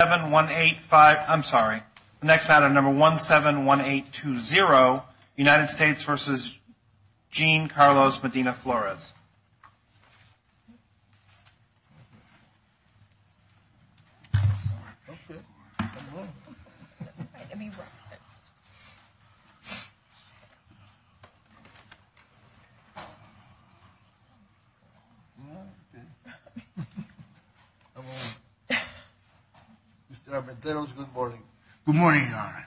7185, I'm sorry, next matter number 171820, United States versus Jean Carlos Medina-Flores. Mr. Armenteros, good morning. Good morning, Your Honor.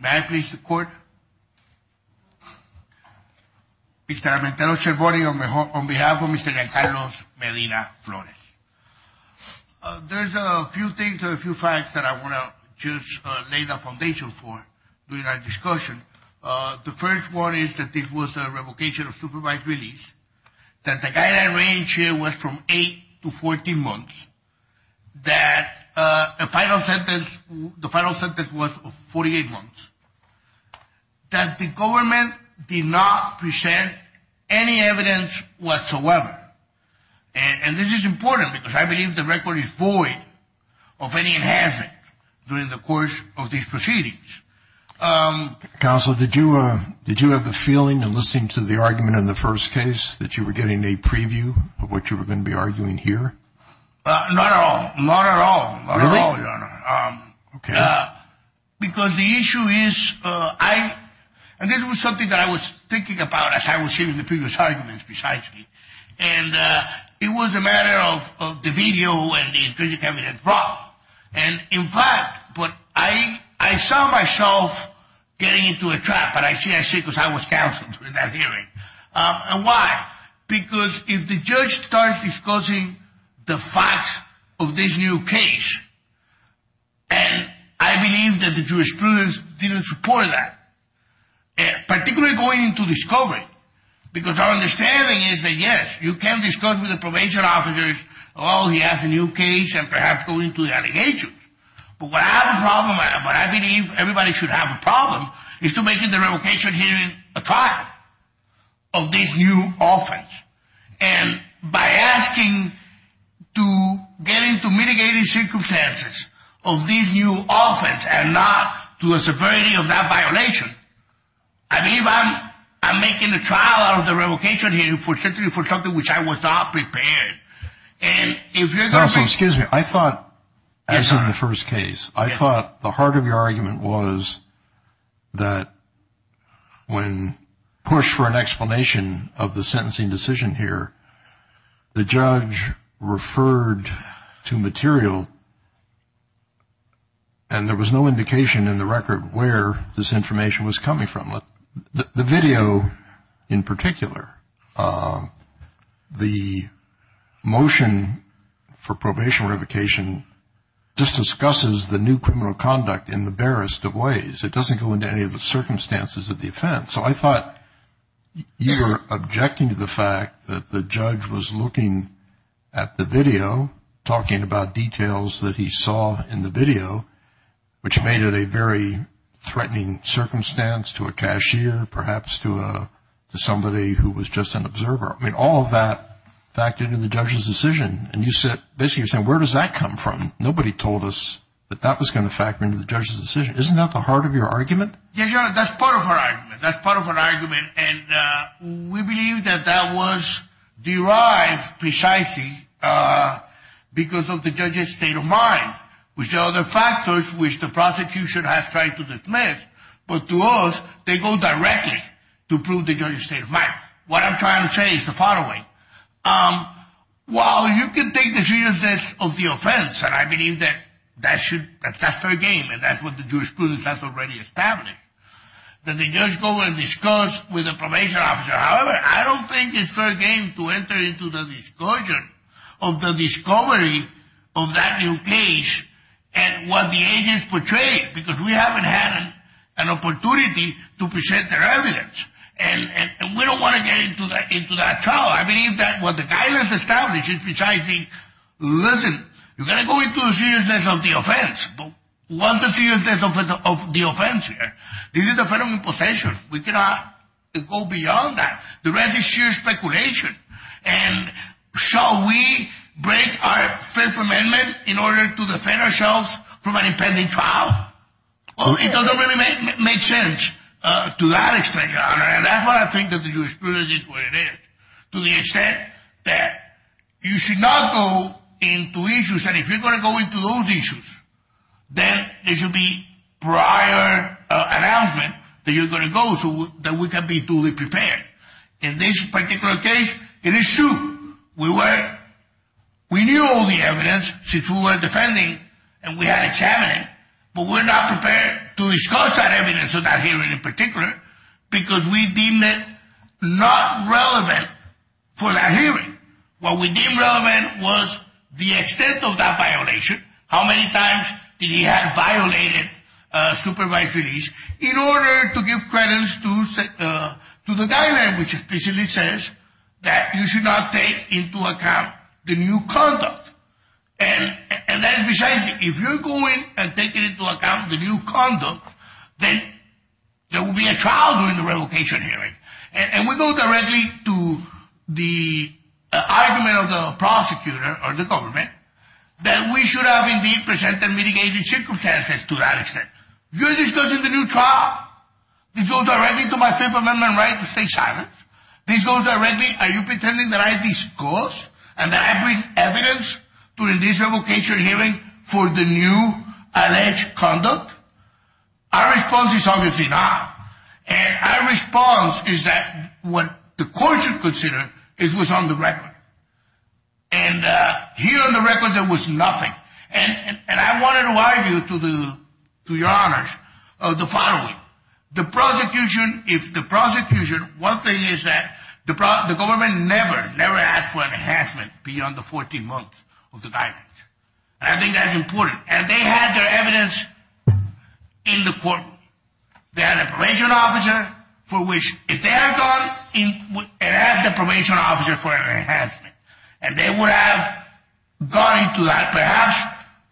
May I please the court? Mr. Armenteros, good morning, on behalf of Mr. Jean Carlos Medina-Flores. There's a few things, a few facts that I want to just lay the foundation for during our discussion. The first one is that this was a revocation of supervised release, that the guideline range here was from 8 to 14 months, that the final sentence was 48 months, that the government did not present any evidence whatsoever. And this is important because I believe the record is void of any enhancement during the course of these proceedings. Counsel, did you have the feeling in listening to the argument in the first case that you were getting a preview of what you were going to be arguing here? Not at all. Not at all? Not at all, Your Honor. Really? Okay. Because the issue is I, and this was something that I was thinking about as I was hearing the previous arguments besides me, and it was a matter of the video and the intrinsic evidence brought. And in fact, I saw myself getting into a trap, and I say I see because I was counsel during that hearing. And why? Because if the judge starts discussing the facts of this new case, and I believe that the jurisprudence didn't support that, particularly going into discovery, because our understanding is that, yes, you can discuss with the probation officers, oh, he has a new case, and perhaps go into the allegations. But what I have a problem, what I believe everybody should have a problem, is to make the revocation hearing a trial of this new offense. And by asking to get into mitigating circumstances of this new offense and not to a severity of that violation, I believe I'm making a trial out of the revocation hearing for something which I was not prepared. And if you're going to make... Counsel, excuse me. I thought, as in the first case, I thought the heart of your argument was that when pushed for an explanation of the sentencing decision here, the judge referred to material, and there was no indication in the record where this information was coming from. The video in particular, the motion for probation revocation just discusses the new criminal conduct in the barest of ways. It doesn't go into any of the circumstances of the offense. So I thought you were objecting to the fact that the judge was looking at the video, talking about details that he saw in the video, which made it a very threatening circumstance to a cashier, perhaps to somebody who was just an observer. I mean, all of that factored into the judge's decision. And you said, basically you're saying, where does that come from? Nobody told us that that was going to factor into the judge's decision. Isn't that the heart of your argument? That's part of our argument. That's part of our argument. And we believe that that was derived precisely because of the judge's state of mind, which are the factors which the prosecution has tried to dismiss. But to us, they go directly to prove the judge's state of mind. What I'm trying to say is the following. While you can take the seriousness of the offense, and I believe that that's fair game, and that's what the jurisprudence has already established, that the judge go and discuss with the probation officer. However, I don't think it's fair game to enter into the discussion of the discovery of that new case and what the agents portrayed, because we haven't had an opportunity to present the evidence. And we don't want to get into that trial. I believe that what the guidance established is precisely, listen, you're going to go into the seriousness of the offense, but what is the seriousness of the offense here? This is a federal imposition. We cannot go beyond that. The rest is sheer speculation. And shall we break our Fifth Amendment in order to defend ourselves from an impending trial? It doesn't really make sense to that extent. And that's why I think that the jurisprudence is what it is, to the extent that you should not go into issues, and if you're going to go into those issues, then there should be prior announcement that you're going to go so that we can be duly prepared. In this particular case, it is true. We knew all the evidence since we were defending, and we had examined it, but we're not prepared to discuss that evidence of that hearing in particular because we deemed it not relevant for that hearing. What we deemed relevant was the extent of that violation. How many times did he have violated supervised release in order to give credits to the guideline, which specifically says that you should not take into account the new conduct. And then besides, if you're going and taking into account the new conduct, then there will be a trial during the revocation hearing. And we go directly to the argument of the prosecutor or the government that we should have indeed presented mitigated circumstances to that extent. You're discussing the new trial. It goes directly to my Fifth Amendment right to stay silent. This goes directly. Are you pretending that I disclose and that I bring evidence during this revocation hearing for the new alleged conduct? Our response is obviously not. And our response is that what the court should consider is what's on the record. And here on the record, there was nothing. And I wanted to argue to your honors the following. The prosecution, if the prosecution, one thing is that the government never, never asked for an enhancement beyond the 14 months of the guidance. And I think that's important. And they had their evidence in the court. They had a probation officer for which if they had gone and asked the probation officer for an enhancement, and they would have gone into that, perhaps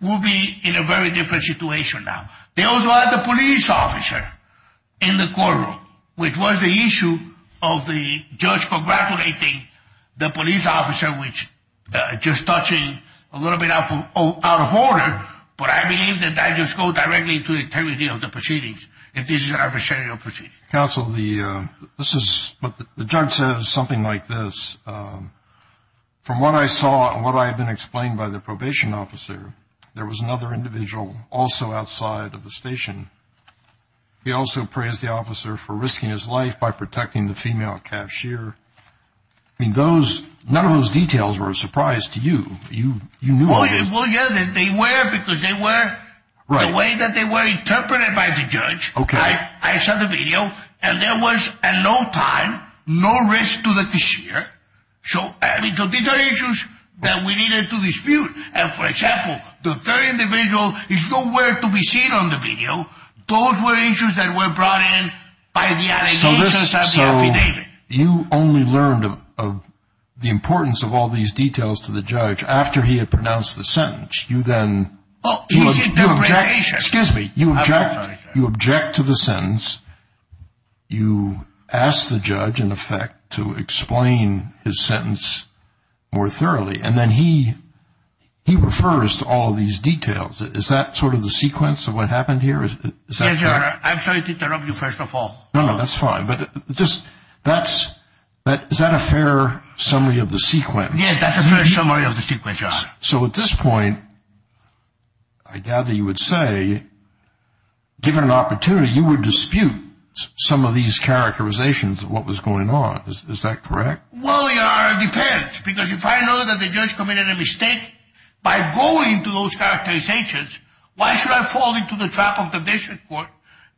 we'll be in a very different situation now. They also had the police officer in the courtroom, which was the issue of the judge congratulating the police officer, which just touching a little bit out of order, but I believe that that just goes directly to the integrity of the proceedings, if this is an adversarial proceeding. Counsel, this is what the judge says, something like this. From what I saw and what I have been explained by the probation officer, there was another individual also outside of the station. He also praised the officer for risking his life by protecting the female cashier. I mean, those, none of those details were a surprise to you. You knew. Well, yes, they were, because they were the way that they were interpreted by the judge. Okay. I saw the video, and there was at no time no risk to the cashier. So, I mean, these are issues that we needed to dispute. And, for example, the third individual is nowhere to be seen on the video. Those were issues that were brought in by the allegations of the affidavit. So, you only learned of the importance of all these details to the judge after he had pronounced the sentence. You then – Oh, his interpretation. Excuse me. You object to the sentence. You ask the judge, in effect, to explain his sentence more thoroughly, and then he refers to all these details. Is that sort of the sequence of what happened here? Yes, Your Honor. I'm sorry to interrupt you, first of all. No, no, that's fine. But is that a fair summary of the sequence? Yes, that's a fair summary of the sequence, Your Honor. So, at this point, I gather you would say, given an opportunity, you would dispute some of these characterizations of what was going on. Is that correct? Well, Your Honor, it depends. Because if I know that the judge committed a mistake by going to those characterizations, why should I fall into the trap of the district court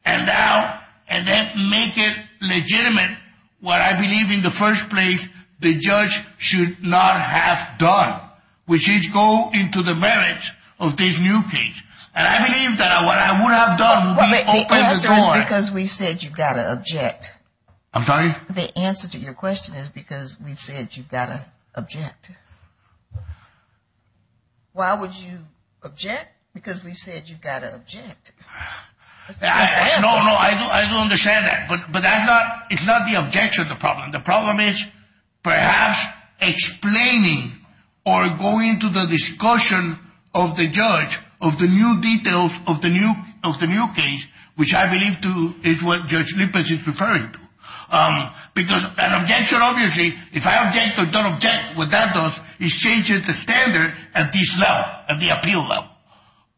and then make it legitimate what I believe in the first place the judge should not have done, which is go into the merits of this new case? And I believe that what I would have done would be open the door. The answer is because we've said you've got to object. I'm sorry? The answer to your question is because we've said you've got to object. Why would you object? Because we've said you've got to object. No, no, I don't understand that. But that's not the objection to the problem. The problem is perhaps explaining or going to the discussion of the judge of the new details of the new case, which I believe is what Judge Lippert is referring to. Because an objection, obviously, if I object or don't object, what that does is change the standard at this level, at the appeal level.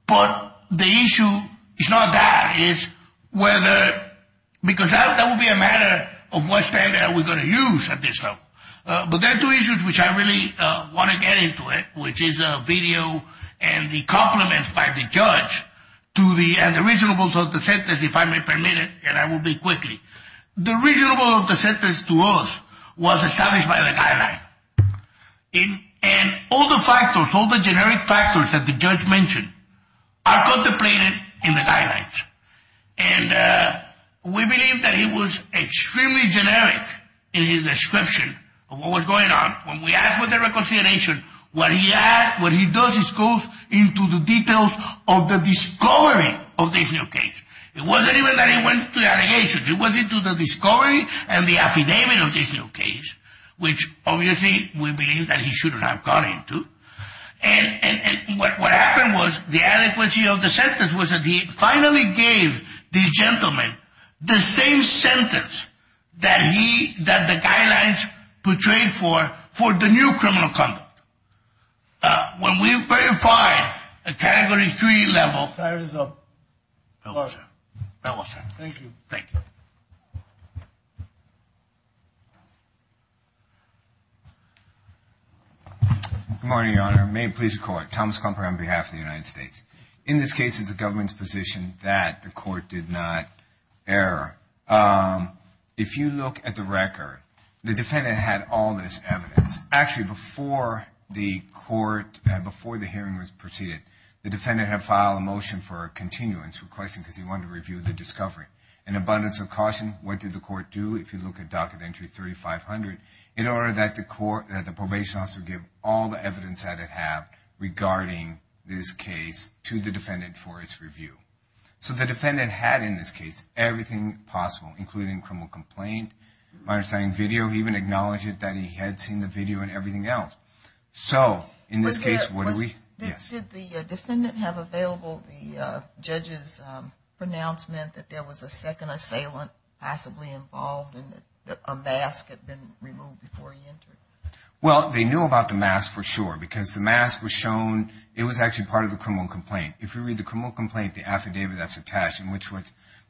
But the issue is not that. It's whether, because that would be a matter of what standard we're going to use at this level. But there are two issues which I really want to get into it, which is a video and the compliments by the judge to the reasonableness of the sentence, if I may permit it. And I will be quickly. The reasonableness of the sentence to us was established by the guideline. And all the factors, all the generic factors that the judge mentioned are contemplated in the guidelines. And we believe that he was extremely generic in his description of what was going on. When we ask for the reconsideration, what he does is go into the details of the discovery of this new case. It wasn't even that he went to the allegations. It was into the discovery and the affidavit of this new case, which obviously we believe that he shouldn't have gone into. And what happened was the adequacy of the sentence was that he finally gave the gentleman the same sentence that he, that the guidelines portrayed for, for the new criminal conduct. When we verify a category three level, there is a. Thank you. Thank you. Good morning, Your Honor. May it please the court. Thomas Comper on behalf of the United States. In this case, it's the government's position that the court did not err. If you look at the record, the defendant had all this evidence. Actually, before the court, before the hearing was proceeded, the defendant had filed a motion for a continuance request because he wanted to review the discovery. An abundance of caution, what did the court do? If you look at Docket Entry 3500, in order that the court, that the probation officer give all the evidence that it had regarding this case to the defendant for its review. So the defendant had, in this case, everything possible, including criminal complaint. My understanding, video. He even acknowledged that he had seen the video and everything else. So, in this case, what do we. Yes. Did the defendant have available the judge's pronouncement that there was a second assailant possibly involved and that a mask had been removed before he entered? Well, they knew about the mask for sure because the mask was shown. It was actually part of the criminal complaint. If you read the criminal complaint, the affidavit that's attached in which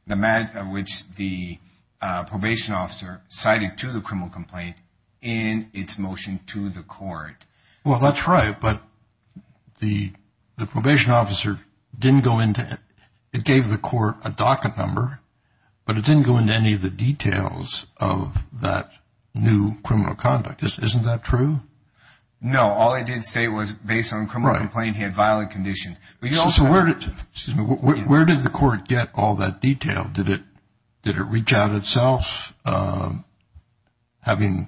the probation officer cited to the criminal complaint in its motion to the court. Well, that's right, but the probation officer didn't go into it. It gave the court a docket number, but it didn't go into any of the details of that new criminal conduct. Isn't that true? No. All it did say was based on criminal complaint, he had violent conditions. So, where did the court get all that detail? Did it reach out itself having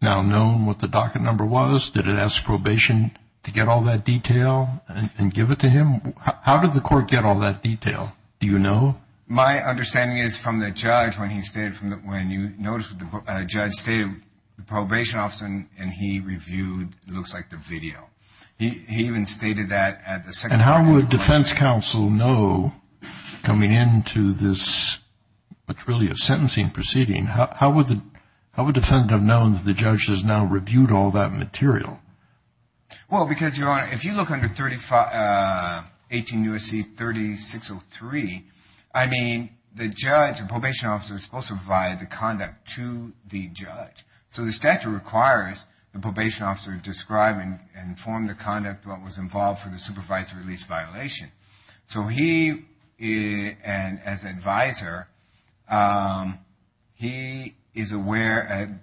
now known what the docket number was? Did it ask probation to get all that detail and give it to him? How did the court get all that detail? Do you know? My understanding is from the judge when you notice the judge stated the probation officer and he reviewed what looks like the video. He even stated that at the second hearing. And how would defense counsel know coming into this, what's really a sentencing proceeding, how would the defendant have known that the judge has now reviewed all that material? Well, because your Honor, if you look under 18 U.S.C. 3603, I mean the judge, the probation officer is supposed to provide the conduct to the judge. So, the statute requires the probation officer to describe and inform the conduct what was involved for the supervised release violation. So, he and as advisor, he is aware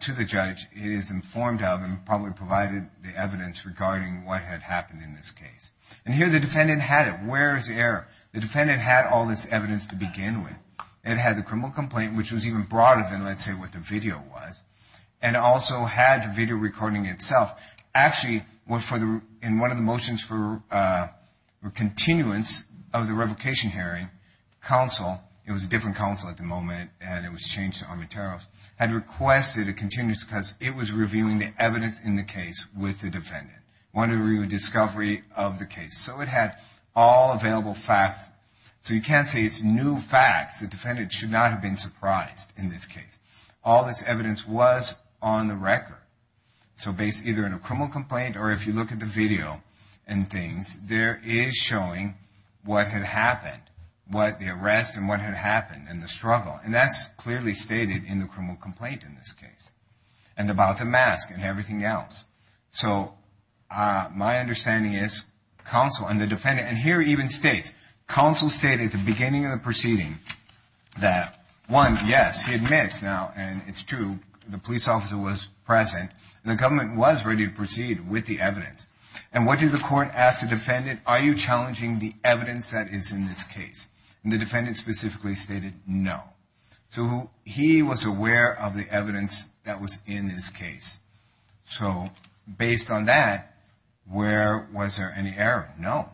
to the judge he is informed of and probably provided the evidence regarding what had happened in this case. And here the defendant had it. Where is the error? The defendant had all this evidence to begin with. It had the criminal complaint, which was even broader than let's say what the video was. And also had the video recording itself. Actually, in one of the motions for continuance of the revocation hearing, counsel, it was a different counsel at the moment and it was changed to Armateros, had requested a continuance because it was reviewing the evidence in the case with the defendant. Wanted to review the discovery of the case. So, it had all available facts. So, you can't say it's new facts. The defendant should not have been surprised in this case. All this evidence was on the record. So, based either on a criminal complaint or if you look at the video and things, there is showing what had happened. What the arrest and what had happened and the struggle. And that's clearly stated in the criminal complaint in this case. And about the mask and everything else. So, my understanding is counsel and the defendant, and here it even states, counsel stated at the beginning of the proceeding that one, yes, he admits. Now, and it's true, the police officer was present. The government was ready to proceed with the evidence. And what did the court ask the defendant? Are you challenging the evidence that is in this case? And the defendant specifically stated no. So, he was aware of the evidence that was in this case. So, based on that, where was there any error? No.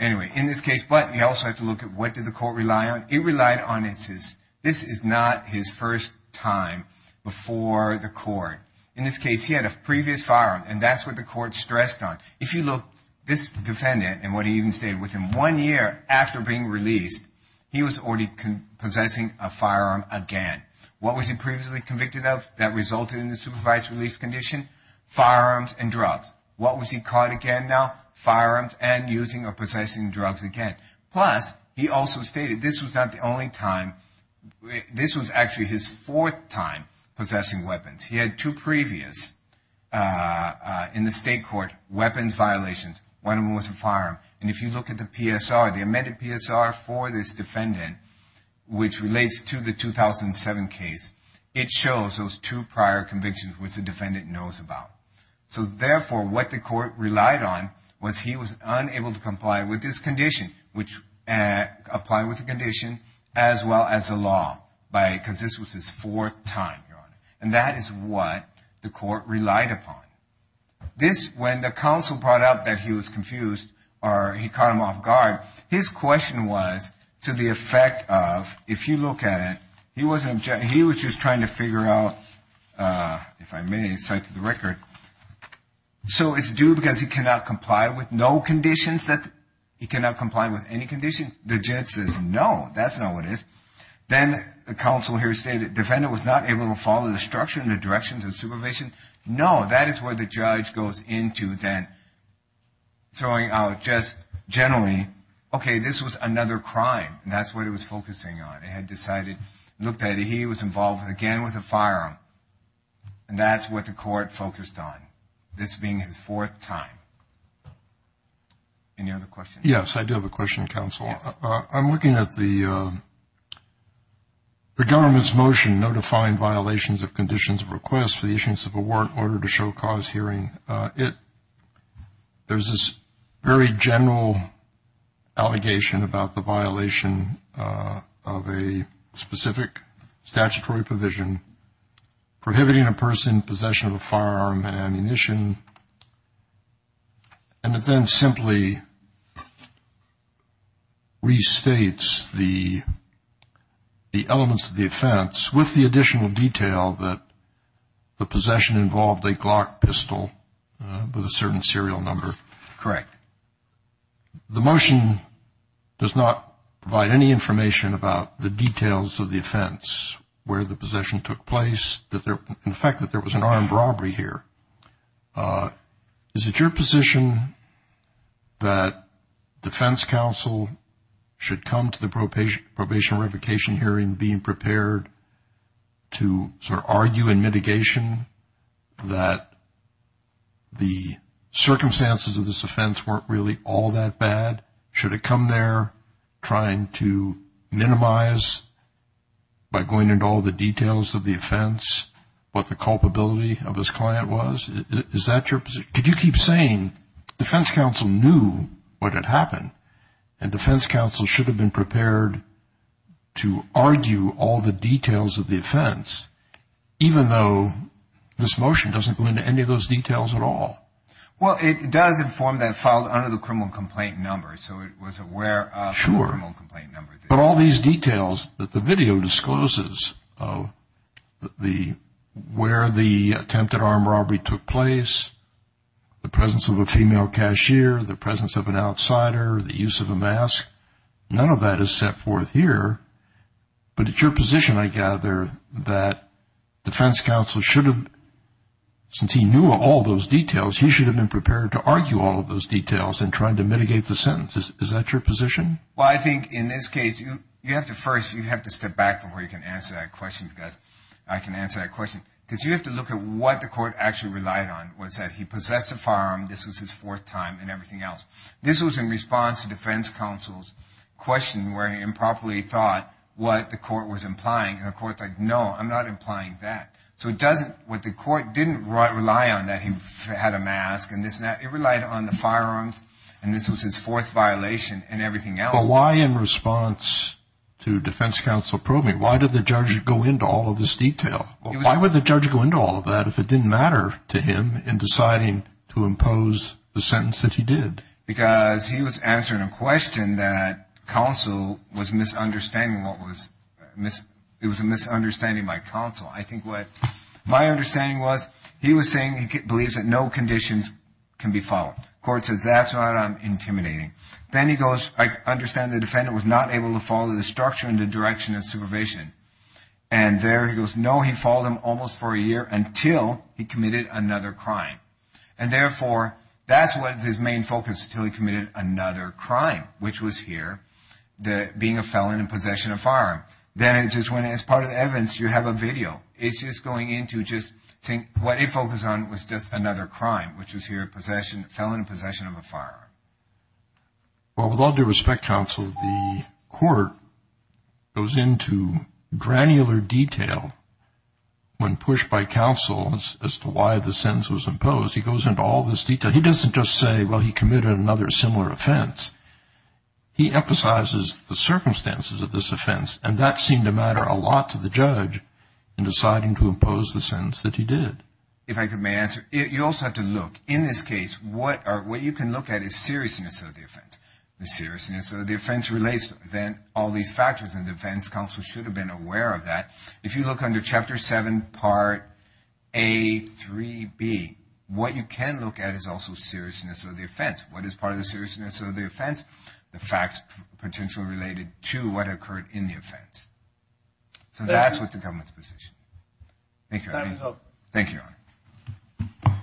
Anyway, in this case, but you also have to look at what did the court rely on. It relied on, this is not his first time before the court. In this case, he had a previous firearm, and that's what the court stressed on. If you look, this defendant and what he even stated, within one year after being released, he was already possessing a firearm again. What was he previously convicted of that resulted in the supervised release condition? Firearms and drugs. What was he caught again now? Firearms and using or possessing drugs again. Plus, he also stated this was not the only time. This was actually his fourth time possessing weapons. He had two previous, in the state court, weapons violations. One of them was a firearm. And if you look at the PSR, the amended PSR for this defendant, which relates to the 2007 case, it shows those two prior convictions which the defendant knows about. So, therefore, what the court relied on was he was unable to comply with this condition, which applied with the condition as well as the law, because this was his fourth time, Your Honor. And that is what the court relied upon. This, when the counsel brought up that he was confused or he caught him off guard, his question was to the effect of, if you look at it, he was just trying to figure out, if I may cite to the record, so it's due because he cannot comply with no conditions that he cannot comply with any conditions. The judge says, no, that's not what it is. Then the counsel here stated the defendant was not able to follow the structure and the directions of supervision. No, that is where the judge goes into then throwing out just generally, okay, this was another crime. And that's what it was focusing on. They had decided, looked at it, he was involved again with a firearm. And that's what the court focused on, this being his fourth time. Any other questions? Yes, I do have a question, counsel. I'm looking at the government's motion notifying violations of conditions of request for the issuance of a warrant order to show cause hearing. There's this very general allegation about the violation of a specific statutory provision, prohibiting a person in possession of a firearm and ammunition. And it then simply restates the elements of the offense with the additional detail that the possession involved a with a certain serial number. Correct. The motion does not provide any information about the details of the offense, where the possession took place, the fact that there was an armed robbery here. Is it your position that defense counsel should come to the probationary revocation hearing being prepared to sort of the circumstances of this offense weren't really all that bad? Should it come there trying to minimize by going into all the details of the offense what the culpability of his client was? Is that your position? Could you keep saying defense counsel knew what had happened and defense counsel should have been prepared to argue all the details of the offense, even though this motion doesn't go into any of those details at all? Well, it does inform that filed under the criminal complaint number, so it was aware of the criminal complaint number. But all these details that the video discloses, where the attempted armed robbery took place, the presence of a female cashier, the presence of an outsider, the use of a mask, none of that is set forth here. But it's your position, I gather, that defense counsel should have, since he knew all those details, he should have been prepared to argue all of those details in trying to mitigate the sentence. Is that your position? Well, I think in this case, you have to first, you have to step back before you can answer that question because I can answer that question. Because you have to look at what the court actually relied on, was that he possessed a firearm, this was his fourth time, and everything else. This was in response to defense counsel's question where he improperly thought what the court was implying, and the court said, no, I'm not implying that. So it doesn't, what the court didn't rely on that he had a mask and this and that, it relied on the firearms and this was his fourth violation and everything else. But why in response to defense counsel probing, why did the judge go into all of this detail? Why would the judge go into all of that if it didn't matter to him in deciding to impose the sentence that he did? Because he was answering a question that counsel was misunderstanding what was, it was a misunderstanding by counsel. I think what my understanding was, he was saying he believes that no conditions can be followed. The court said, that's what I'm intimidating. Then he goes, I understand the defendant was not able to follow the structure and the direction of supervision. And there he goes, no, he followed them almost for a year until he committed another crime. And therefore, that's what his main focus until he committed another crime, which was here, being a felon in possession of a firearm. Then it just went, as part of the evidence, you have a video. It's just going into just saying what he focused on was just another crime, which was here, felon in possession of a firearm. Well, with all due respect, counsel, the court goes into granular detail when pushed by counsel as to why the sentence was imposed. He goes into all this detail. He doesn't just say, well, he committed another similar offense. He emphasizes the circumstances of this offense, and that seemed to matter a lot to the judge in deciding to impose the sentence that he did. If I may answer, you also have to look. In this case, what you can look at is seriousness of the offense. The seriousness of the offense relates then all these factors, and the defense counsel should have been aware of that. If you look under Chapter 7, Part A, 3B, what you can look at is also seriousness of the offense. What is part of the seriousness of the offense? The facts potentially related to what occurred in the offense. So that's with the government's position. Thank you, Your Honor. Thank you, Your Honor.